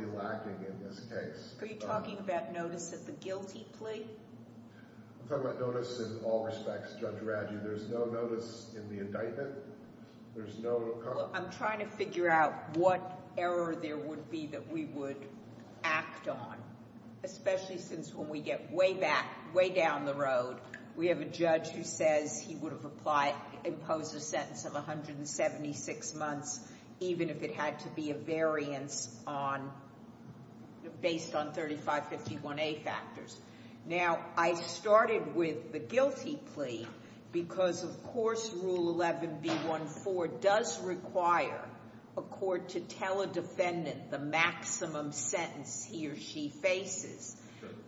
United States of America v. Nellis United States of America v. Nellis United States of America v. Nellis United States of America v. Nellis United States of America There is no outcome. No, I'm trying to figure out what error there would be that we would act on, especially since when we get way back, way down the road, we have a judge who says he would have apply imposed a sentence of 176 months, even if it had to be a variance on based on 3551A factors. Now I started with the guilty plea because of course rule 11B14 does require a court to tell a defendant the maximum sentence he or she faces.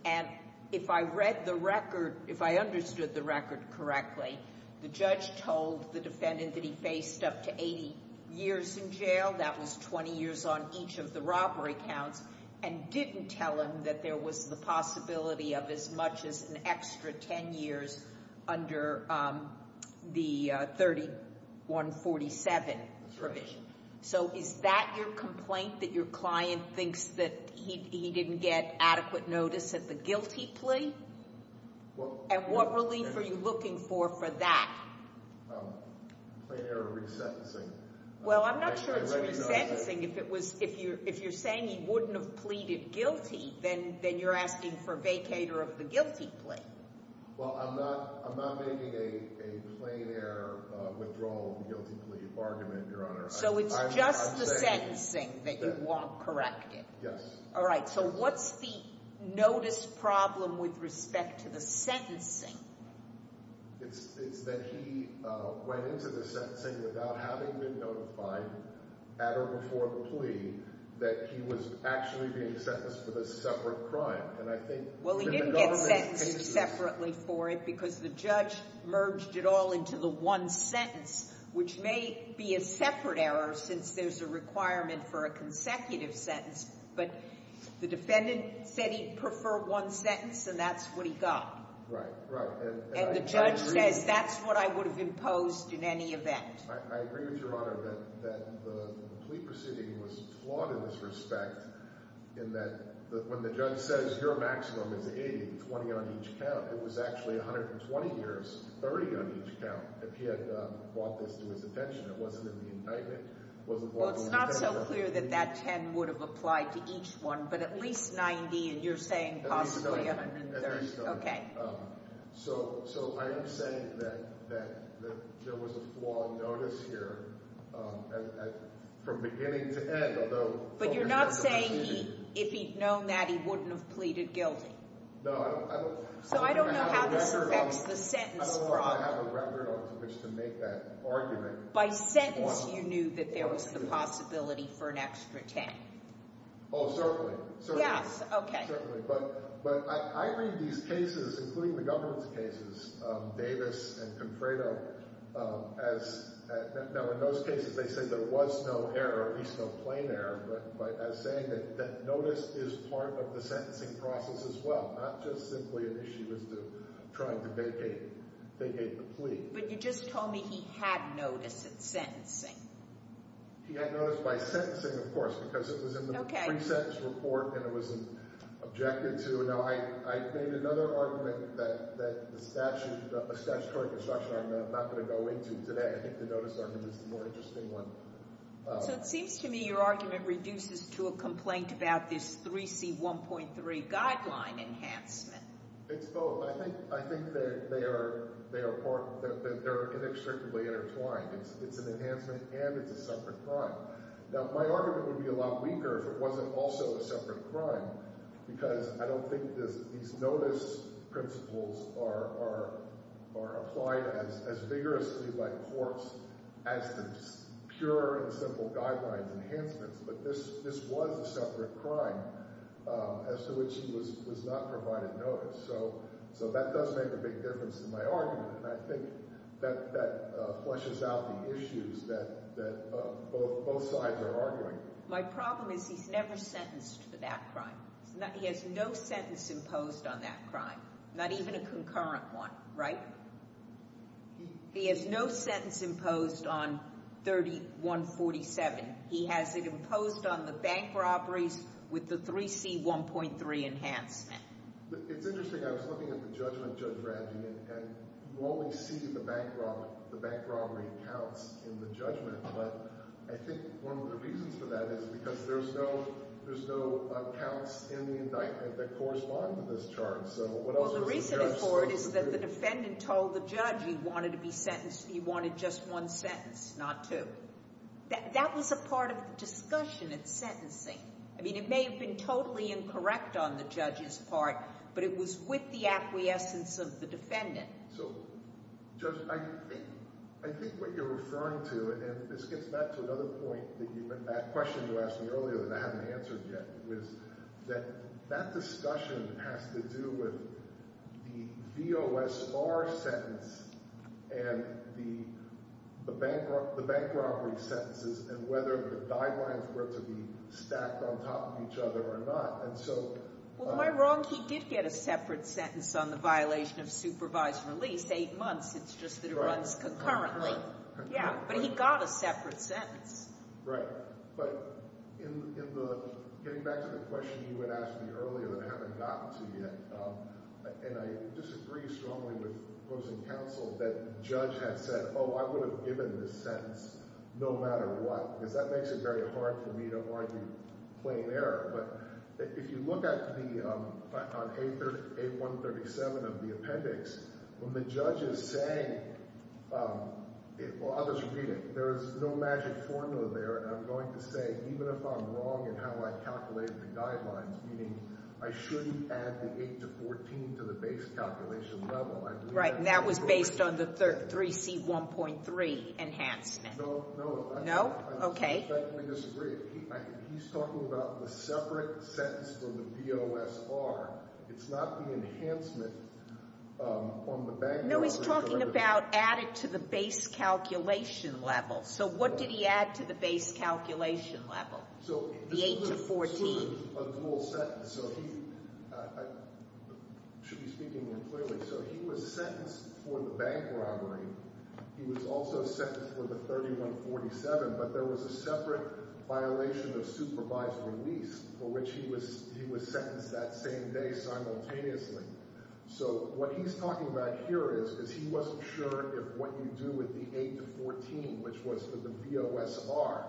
And if I read the record, if I understood the record correctly, the judge told the defendant that he faced up to 80 years in jail, that was 20 years on each of the robbery counts, and didn't tell him that there was the possibility of as much as an extra 10 years under the 3147 provision. So is that your complaint, that your client thinks that he didn't get adequate notice of the guilty plea? And what relief are you looking for for that? Complaining or resentencing. Well, I'm not sure it's resentencing. If you're saying he wouldn't have pleaded guilty, then you're asking for vacator of the guilty plea. Well, I'm not making a plain air withdrawal of the guilty plea argument, Your Honor. So it's just the sentencing that you want corrected? Yes. Alright, so what's the notice problem with respect to the sentencing? It's that he went into the sentencing without having been notified at or before the plea that he was actually being sentenced for a separate crime. Well, he didn't get sentenced separately for it because the judge merged it all into the one sentence, which may be a separate error since there's a requirement for a consecutive sentence, but the defendant said he preferred one sentence and that's what he got. Right, right. And the judge says that's what I would have imposed in any event. I agree with Your Honor that the plea proceeding was flawed in this respect in that when the judge says your maximum is 80, 20 on each count, it was actually 120 years, 30 on each count, if he had brought this to his attention. It wasn't in the indictment. Well, it's not so clear that that 10 would have applied to each one, but at least 90, and you're saying possibly 130. So I am saying that there was a flawed notice here from beginning to end. But you're not saying if he'd known that he wouldn't have pleaded guilty? No. So I don't know how this affects the sentence problem. I don't know if I have a record on which to make that argument. By sentence you knew that there was the possibility for an extra 10. Oh, certainly. Yes, okay. Yes, certainly. But I read these cases, including the governance cases, Davis and Confredo, now in those cases they say there was no error, at least no plain error, but as saying that notice is part of the sentencing process as well, not just simply an issue as to trying to vacate the plea. But you just told me he had notice in sentencing. He had notice by sentencing, of course, because it was in the pre-sentence report and it was objected to. Now, I made another argument that a statutory construction I'm not going to go into today. I think the notice argument is the more interesting one. So it seems to me your argument reduces to a complaint about this 3C1.3 guideline enhancement. It's both. I think that they are inextricably intertwined. It's an enhancement and it's a separate crime. Now, my argument would be a lot weaker if it wasn't also a separate crime because I don't think these notice principles are applied as vigorously by courts as the pure and simple guidelines enhancements, but this was a separate crime as to which he was not provided notice. So that does make a big difference in my argument, and I think that fleshes out the issues that both sides are arguing. My problem is he's never sentenced for that crime. He has no sentence imposed on that crime, not even a concurrent one, right? He has no sentence imposed on 3147. He has it imposed on the bank robberies with the 3C1.3 enhancement. It's interesting. I was looking at the judgment, Judge Radley, and you only see the bank robbery counts in the judgment, but I think one of the reasons for that is because there's no counts in the indictment that correspond to this charge. Well, the reason for it is that the defendant told the judge he wanted to be sentenced, he wanted just one sentence, not two. That was a part of the discussion at sentencing. I mean, it may have been totally incorrect on the judge's part, but it was with the acquiescence of the defendant. So, Judge, I think what you're referring to, and this gets back to another point, that question you asked me earlier that I haven't answered yet, is that that discussion has to do with the VOSR sentence and the bank robbery sentences and whether the guidelines were to be stacked on top of each other or not. Well, am I wrong? He did get a separate sentence on the violation of supervised release, eight months. It's just that it runs concurrently. Right. Yeah, but he got a separate sentence. Right. But getting back to the question you had asked me earlier that I haven't gotten to yet, and I disagree strongly with opposing counsel, that the judge had said, oh, I would have given this sentence no matter what, because that makes it very hard for me to argue plain error. But if you look on 8137 of the appendix, when the judge is saying, well, I'll just repeat it, there is no magic formula there, and I'm going to say even if I'm wrong in how I calculated the guidelines, meaning I shouldn't add the 8 to 14 to the base calculation level, right, and that was based on the 3C1.3 enhancement. No. No? Okay. I disagree. He's talking about the separate sentence from the VOSR. It's not the enhancement on the bank robbery. No, he's talking about add it to the base calculation level. So what did he add to the base calculation level, the 8 to 14? So he, I should be speaking more clearly. So he was sentenced for the bank robbery. He was also sentenced for the 3147, but there was a separate violation of supervised release for which he was sentenced that same day simultaneously. So what he's talking about here is he wasn't sure if what you do with the 8 to 14, which was for the VOSR,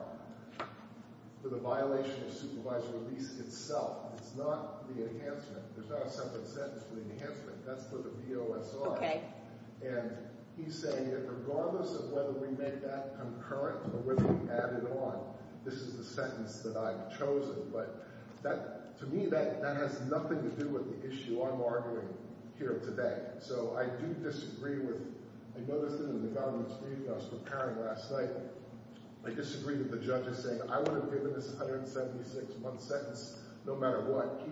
for the violation of supervised release itself. It's not the enhancement. There's not a separate sentence for the enhancement. That's for the VOSR. And he's saying that regardless of whether we make that concurrent or whether we add it on, this is the sentence that I've chosen. But to me that has nothing to do with the issue I'm arguing here today. So I do disagree with – I noticed it in the government's reading I was preparing last night. I disagree with the judge's saying I would have given this 176-month sentence no matter what.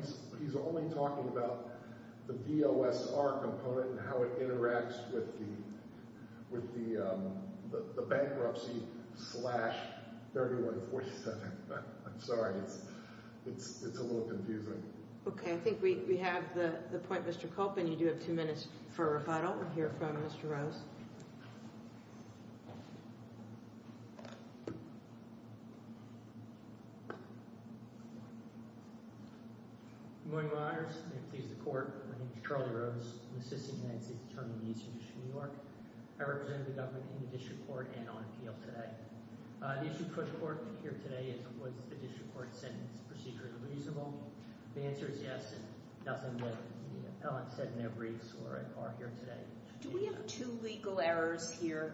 He's only talking about the VOSR component and how it interacts with the bankruptcy slash 3147. I'm sorry. It's a little confusing. Okay. I think we have the point, Mr. Kolpin. You do have two minutes for a rebuttal here from Mr. Rose. Good morning, Your Honors. May it please the Court. My name is Charlie Rose. I'm an assistant United States Attorney in the Eastern District of New York. I represent the government in the district court and on appeal today. The issue for the court here today is was the district court sentence procedure reasonable? The answer is yes, and nothing what the appellant said in their briefs are here today. Do we have two legal errors here,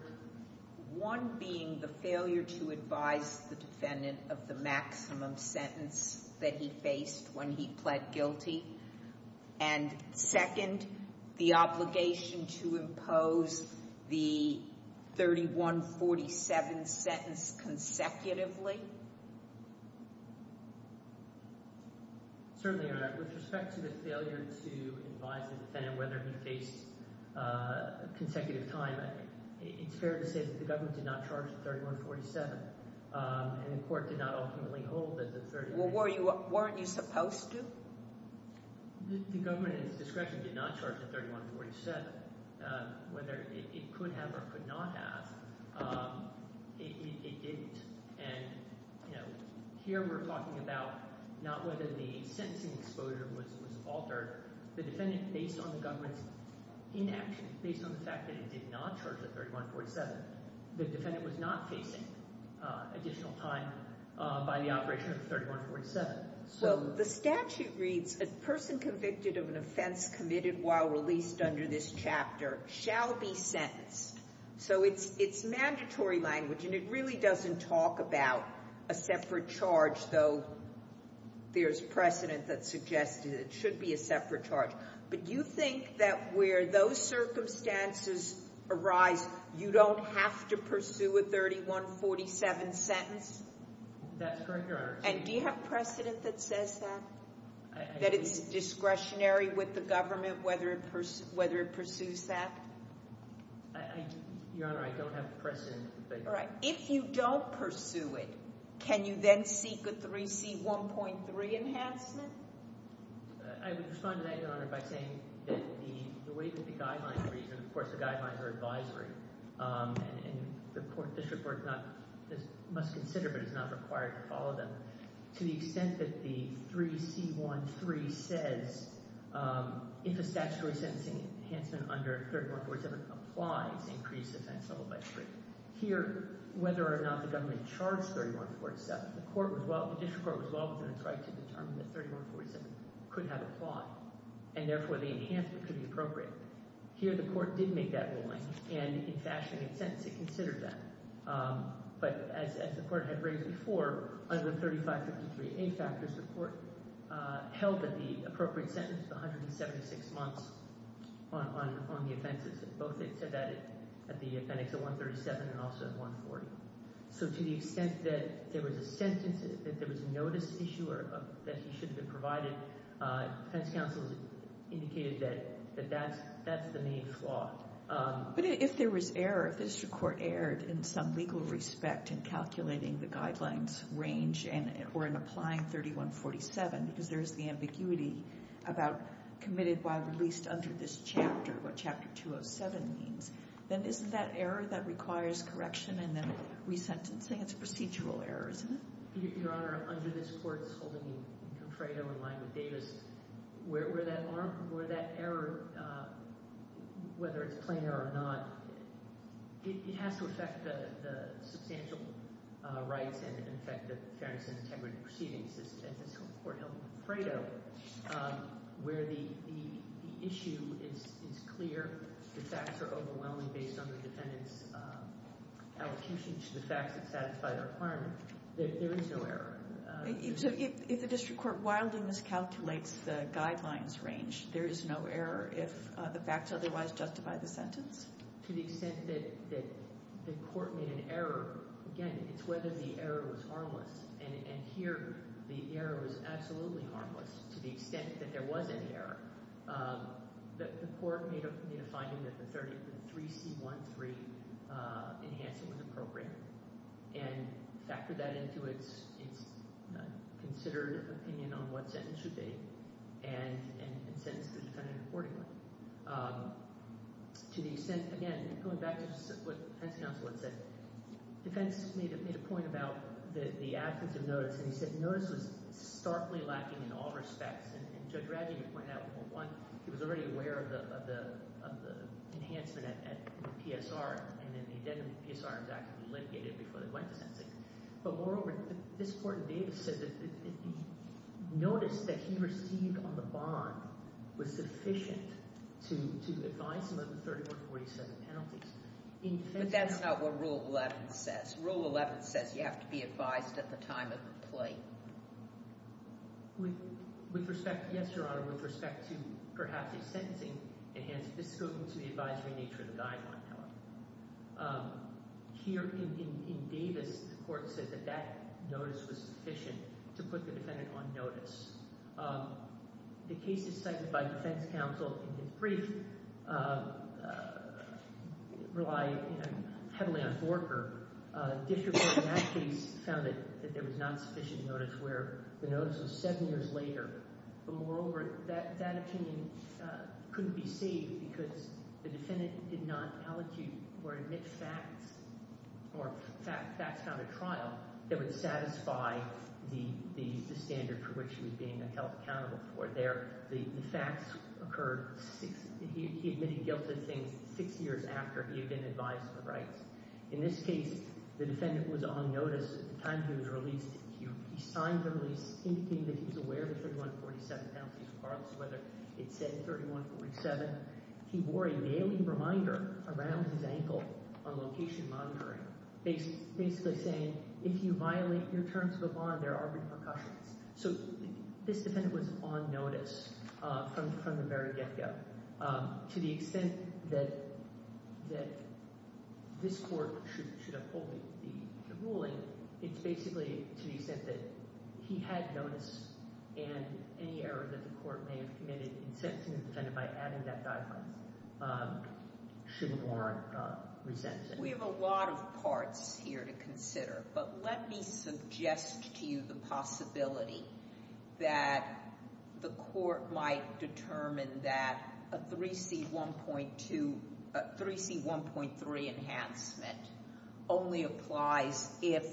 one being the failure to advise the defendant of the maximum sentence that he faced when he pled guilty, and second, the obligation to impose the 3147 sentence consecutively? Certainly, Your Honor. With respect to the failure to advise the defendant whether he faced consecutive time, it's fair to say that the government did not charge the 3147, and the court did not ultimately hold that the 3147— Well, weren't you supposed to? The government, in its discretion, did not charge the 3147. Whether it could have or could not have, it didn't. And, you know, here we're talking about not whether the sentencing exposure was altered. The defendant, based on the government's inaction, based on the fact that it did not charge the 3147, the defendant was not facing additional time by the operation of the 3147. Well, the statute reads, A person convicted of an offense committed while released under this chapter shall be sentenced. So it's mandatory language, and it really doesn't talk about a separate charge, though there's precedent that suggests it should be a separate charge. But you think that where those circumstances arise, you don't have to pursue a 3147 sentence? That's correct, Your Honor. And do you have precedent that says that? That it's discretionary with the government whether it pursues that? Your Honor, I don't have precedent. All right. If you don't pursue it, can you then seek a 3C1.3 enhancement? I would respond to that, Your Honor, by saying that the way that the guidelines read, and, of course, the guidelines are advisory, and this report must consider but is not required to follow them. To the extent that the 3C1.3 says, If a statutory sentencing enhancement under 3147 applies, increase offense level by three. Here, whether or not the government charged 3147, the court was well—the district court was well within its right to determine that 3147 could have applied, and therefore the enhancement could be appropriate. Here, the court did make that ruling, and in fashioning its sentence, it considered that. But as the court had raised before, under 3553A factors, the court held that the appropriate sentence was 176 months on the offenses. Both it said that at the appendix of 137 and also at 140. So to the extent that there was a sentence, that there was a notice issue or that he should have been provided, defense counsel indicated that that's the main flaw. But if there was error, if the district court erred in some legal respect in calculating the guidelines range or in applying 3147 because there's the ambiguity about committed by released under this chapter, what Chapter 207 means, then isn't that error that requires correction and then resentencing? It's a procedural error, isn't it? Your Honor, under this court's holding in Contredo in line with Davis, where that error, whether it's plain error or not, it has to affect the substantial rights and affect the fairness and integrity of proceedings. And this court held in Contredo where the issue is clear, the facts are overwhelming based on the defendant's allocation to the facts that satisfy their requirement. There is no error. So if the district court wildly miscalculates the guidelines range, there is no error if the facts otherwise justify the sentence? To the extent that the court made an error, again, it's whether the error was harmless. And here the error was absolutely harmless to the extent that there was any error. The court made a finding that the 3C13 enhancement was appropriate and factored that into its considered opinion on what sentence should be, and sentenced the defendant accordingly. To the extent, again, going back to what the defense counsel had said, defense made a point about the absence of notice, and he said notice was starkly lacking in all respects. And Judge Radley pointed out, well, one, he was already aware of the enhancement at the PSR, and then the PSR was actually litigated before they went to sentencing. But moreover, this court in Davis said that the notice that he received on the bond was sufficient to advise him of the 3147 penalties. But that's not what Rule 11 says. Rule 11 says you have to be advised at the time of the plea. With respect, yes, Your Honor. With respect to perhaps a sentencing enhancement, this goes into the advisory nature of the guideline, however. Here in Davis, the court said that that notice was sufficient to put the defendant on notice. The cases cited by defense counsel in his brief rely heavily on Forker. District Court in that case found that there was not sufficient notice where the notice was seven years later. But moreover, that opinion could be saved because the defendant did not allocute or admit facts or facts found at trial that would satisfy the standard for which he was being held accountable for. The facts occurred six – he admitted guilt of things six years after he had been advised of the rights. In this case, the defendant was on notice at the time he was released. He signed the release indicating that he was aware of the 3147 penalties, regardless of whether it said 3147. He wore a nailing reminder around his ankle on location monitoring, basically saying, if you violate your terms of a bond, there are repercussions. So this defendant was on notice from the very get-go. To the extent that this court should uphold the ruling, it's basically to the extent that he had notice and any error that the court may have committed in sentencing the defendant by adding that guideline should warrant resentment. We have a lot of parts here to consider. But let me suggest to you the possibility that the court might determine that a 3C1.2 – a 3C1.3 enhancement only applies if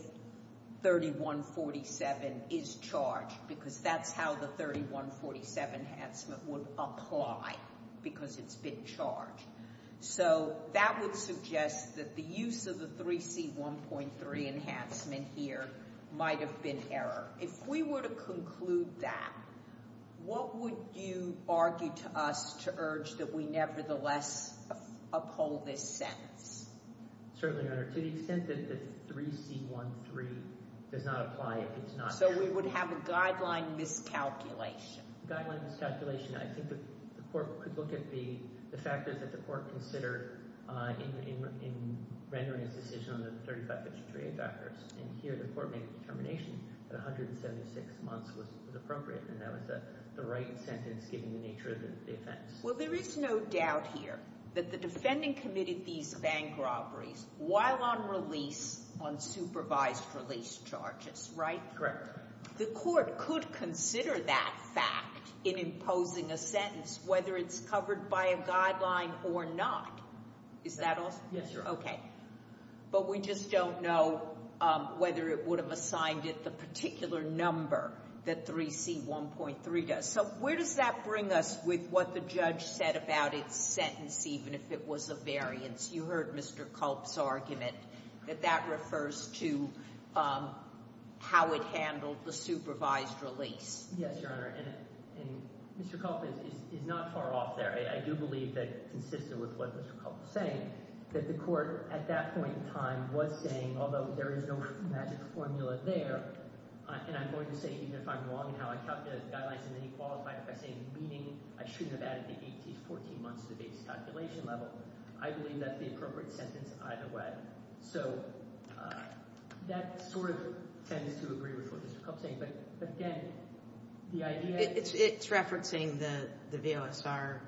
3147 is charged, because that's how the 3147 enhancement would apply, because it's been charged. So that would suggest that the use of the 3C1.3 enhancement here might have been error. If we were to conclude that, what would you argue to us to urge that we nevertheless uphold this sentence? Certainly, Your Honor. To the extent that the 3C1.3 does not apply, it's not error. So we would have a guideline miscalculation. Guideline miscalculation, I think the court could look at the factors that the court considered in rendering its decision on the 35-53A factors. And here the court made the determination that 176 months was appropriate, and that was the right sentence given the nature of the offense. Well, there is no doubt here that the defending committed these bank robberies while on release on supervised release charges, right? Correct. The court could consider that fact in imposing a sentence, whether it's covered by a guideline or not. Is that all? Yes, Your Honor. Okay. But we just don't know whether it would have assigned it the particular number that 3C1.3 does. So where does that bring us with what the judge said about its sentence, even if it was a variance? You heard Mr. Culp's argument that that refers to how it handled the supervised release. Yes, Your Honor. And Mr. Culp is not far off there. I do believe that, consistent with what Mr. Culp was saying, that the court at that point in time was saying, although there is no magic formula there, and I'm going to say, even if I'm wrong in how I calculated the guidelines and then he qualified it by saying, meaning I shouldn't have added the 18 to 14 months to the base calculation level. I believe that's the appropriate sentence either way. So that sort of tends to agree with what Mr. Culp is saying. But again, the idea — It's referencing the VLSR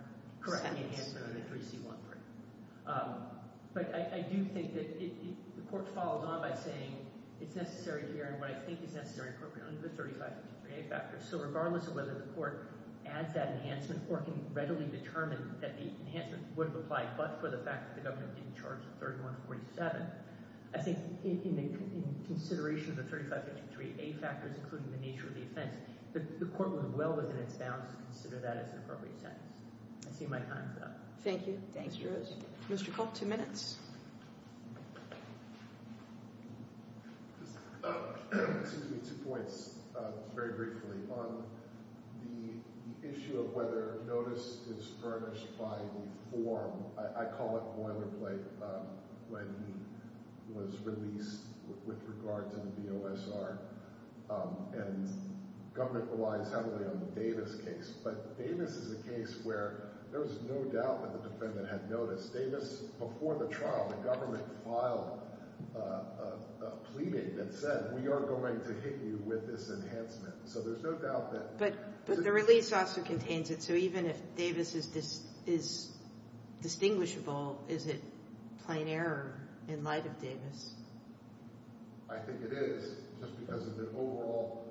enhancement on the 3C1.3. But I do think that the court follows on by saying it's necessary to hear what I think is necessary appropriately on the 3553A factors. So regardless of whether the court adds that enhancement or can readily determine that the enhancement would apply but for the fact that the government didn't charge the 3147, I think in consideration of the 3553A factors, including the nature of the offense, the court would well within its bounds consider that as an appropriate sentence. I see my time's up. Thank you. Thank you. Mr. Culp, two minutes. Excuse me, two points, very briefly. On the issue of whether notice is furnished by the form, I call it boilerplate when he was released with regard to the VLSR and government relies heavily on the Davis case. But Davis is a case where there was no doubt that the defendant had notice. Davis, before the trial, the government filed a pleading that said we are going to hit you with this enhancement. So there's no doubt that But the release also contains it. So even if Davis is distinguishable, is it plain error in light of Davis? I think it is just because of the overall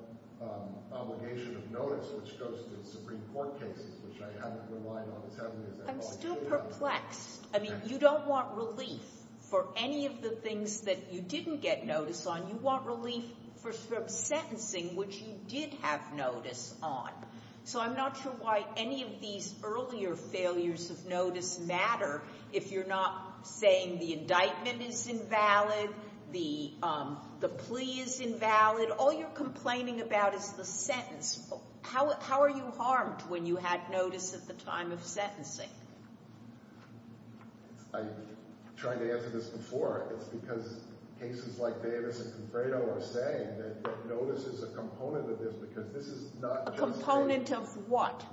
obligation of notice, which goes to the Supreme Court cases, which I haven't relied on as heavily as I have on Davis. I'm still perplexed. I mean, you don't want relief for any of the things that you didn't get notice on. You want relief for sentencing, which you did have notice on. So I'm not sure why any of these earlier failures of notice matter if you're not saying the indictment is invalid, the plea is invalid. All you're complaining about is the sentence. How are you harmed when you had notice at the time of sentencing? I tried to answer this before. It's because cases like Davis and Confredo are saying that notice is a component of this because this is not A component of what?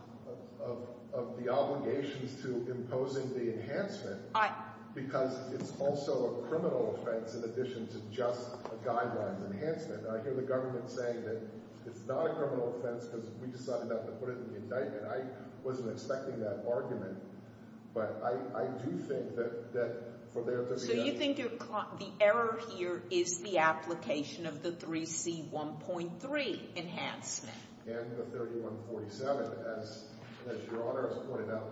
Of the obligations to imposing the enhancement because it's also a criminal offense in addition to just a guideline enhancement. I hear the government saying that it's not a criminal offense because we decided not to put it in the indictment. I wasn't expecting that argument, but I do think that for there to be a So you think the error here is the application of the 3C1.3 enhancement? And the 3147. As Your Honor has pointed out,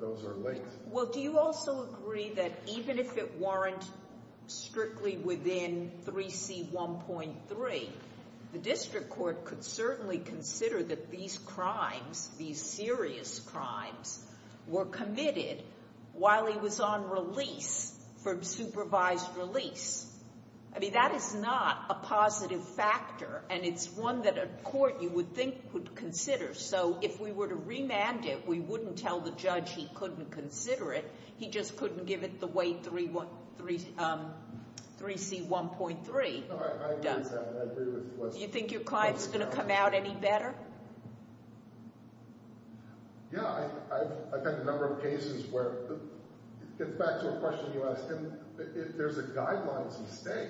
those are linked. Well, do you also agree that even if it weren't strictly within 3C1.3, The district court could certainly consider that these crimes, these serious crimes, Were committed while he was on release from supervised release. I mean, that is not a positive factor, and it's one that a court you would think would consider. So if we were to remand it, we wouldn't tell the judge he couldn't consider it. He just couldn't give it the way 3C1.3 does. No, I agree with that, and I agree with the question. Do you think your client's going to come out any better? Yeah, I've had a number of cases where it gets back to a question you asked. And if there's a guideline to stay,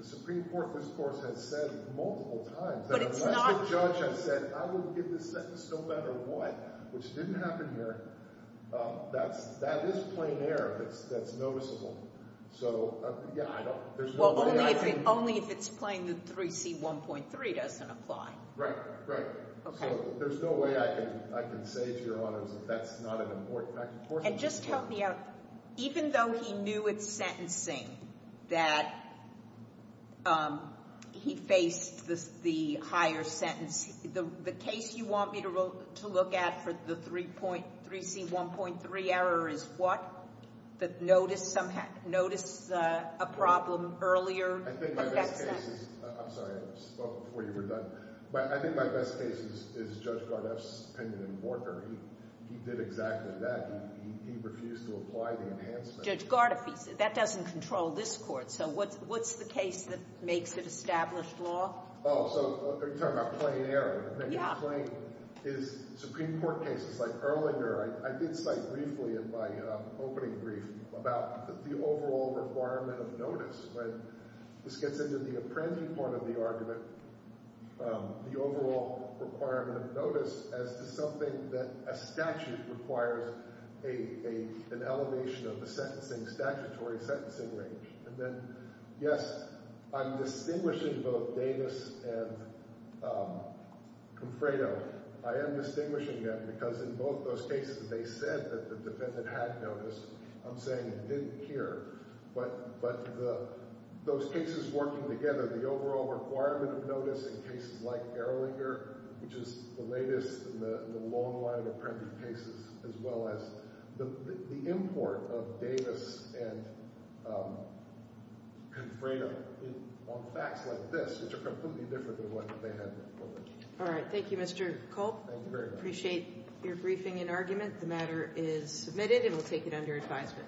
the Supreme Court, this Court has said multiple times. But if the judge has said, I will give this sentence no matter what, which didn't happen here, That is plain error that's noticeable. So, yeah, I don't. Well, only if it's plain that 3C1.3 doesn't apply. Right, right. Okay. So there's no way I can say to Your Honor that that's not an important factor. And just help me out. Even though he knew it's sentencing, that he faced the higher sentence, the case you want me to look at for the 3C1.3 error is what? Notice a problem earlier? I think my best case is, I'm sorry, I spoke before you were done. But I think my best case is Judge Gardeff's opinion in Porter. He did exactly that. He refused to apply the enhancement. Judge Gardeff, that doesn't control this Court. So what's the case that makes it established law? Oh, so are you talking about plain error? Yeah. Plain is Supreme Court cases like Erlinger. I did cite briefly in my opening brief about the overall requirement of notice. This gets into the apprending part of the argument, the overall requirement of notice, as to something that a statute requires an elevation of the sentencing statutory sentencing range. And then, yes, I'm distinguishing both Davis and Confredo. I am distinguishing them because in both those cases they said that the defendant had notice. I'm saying it didn't appear. But those cases working together, the overall requirement of notice in cases like Erlinger, which is the latest in the long line of apprended cases, as well as the import of Davis and Confredo on facts like this, which are completely different than what they had before them. All right. Thank you, Mr. Culp. Thank you very much. I appreciate your briefing and argument. The matter is submitted, and we'll take it under advisement.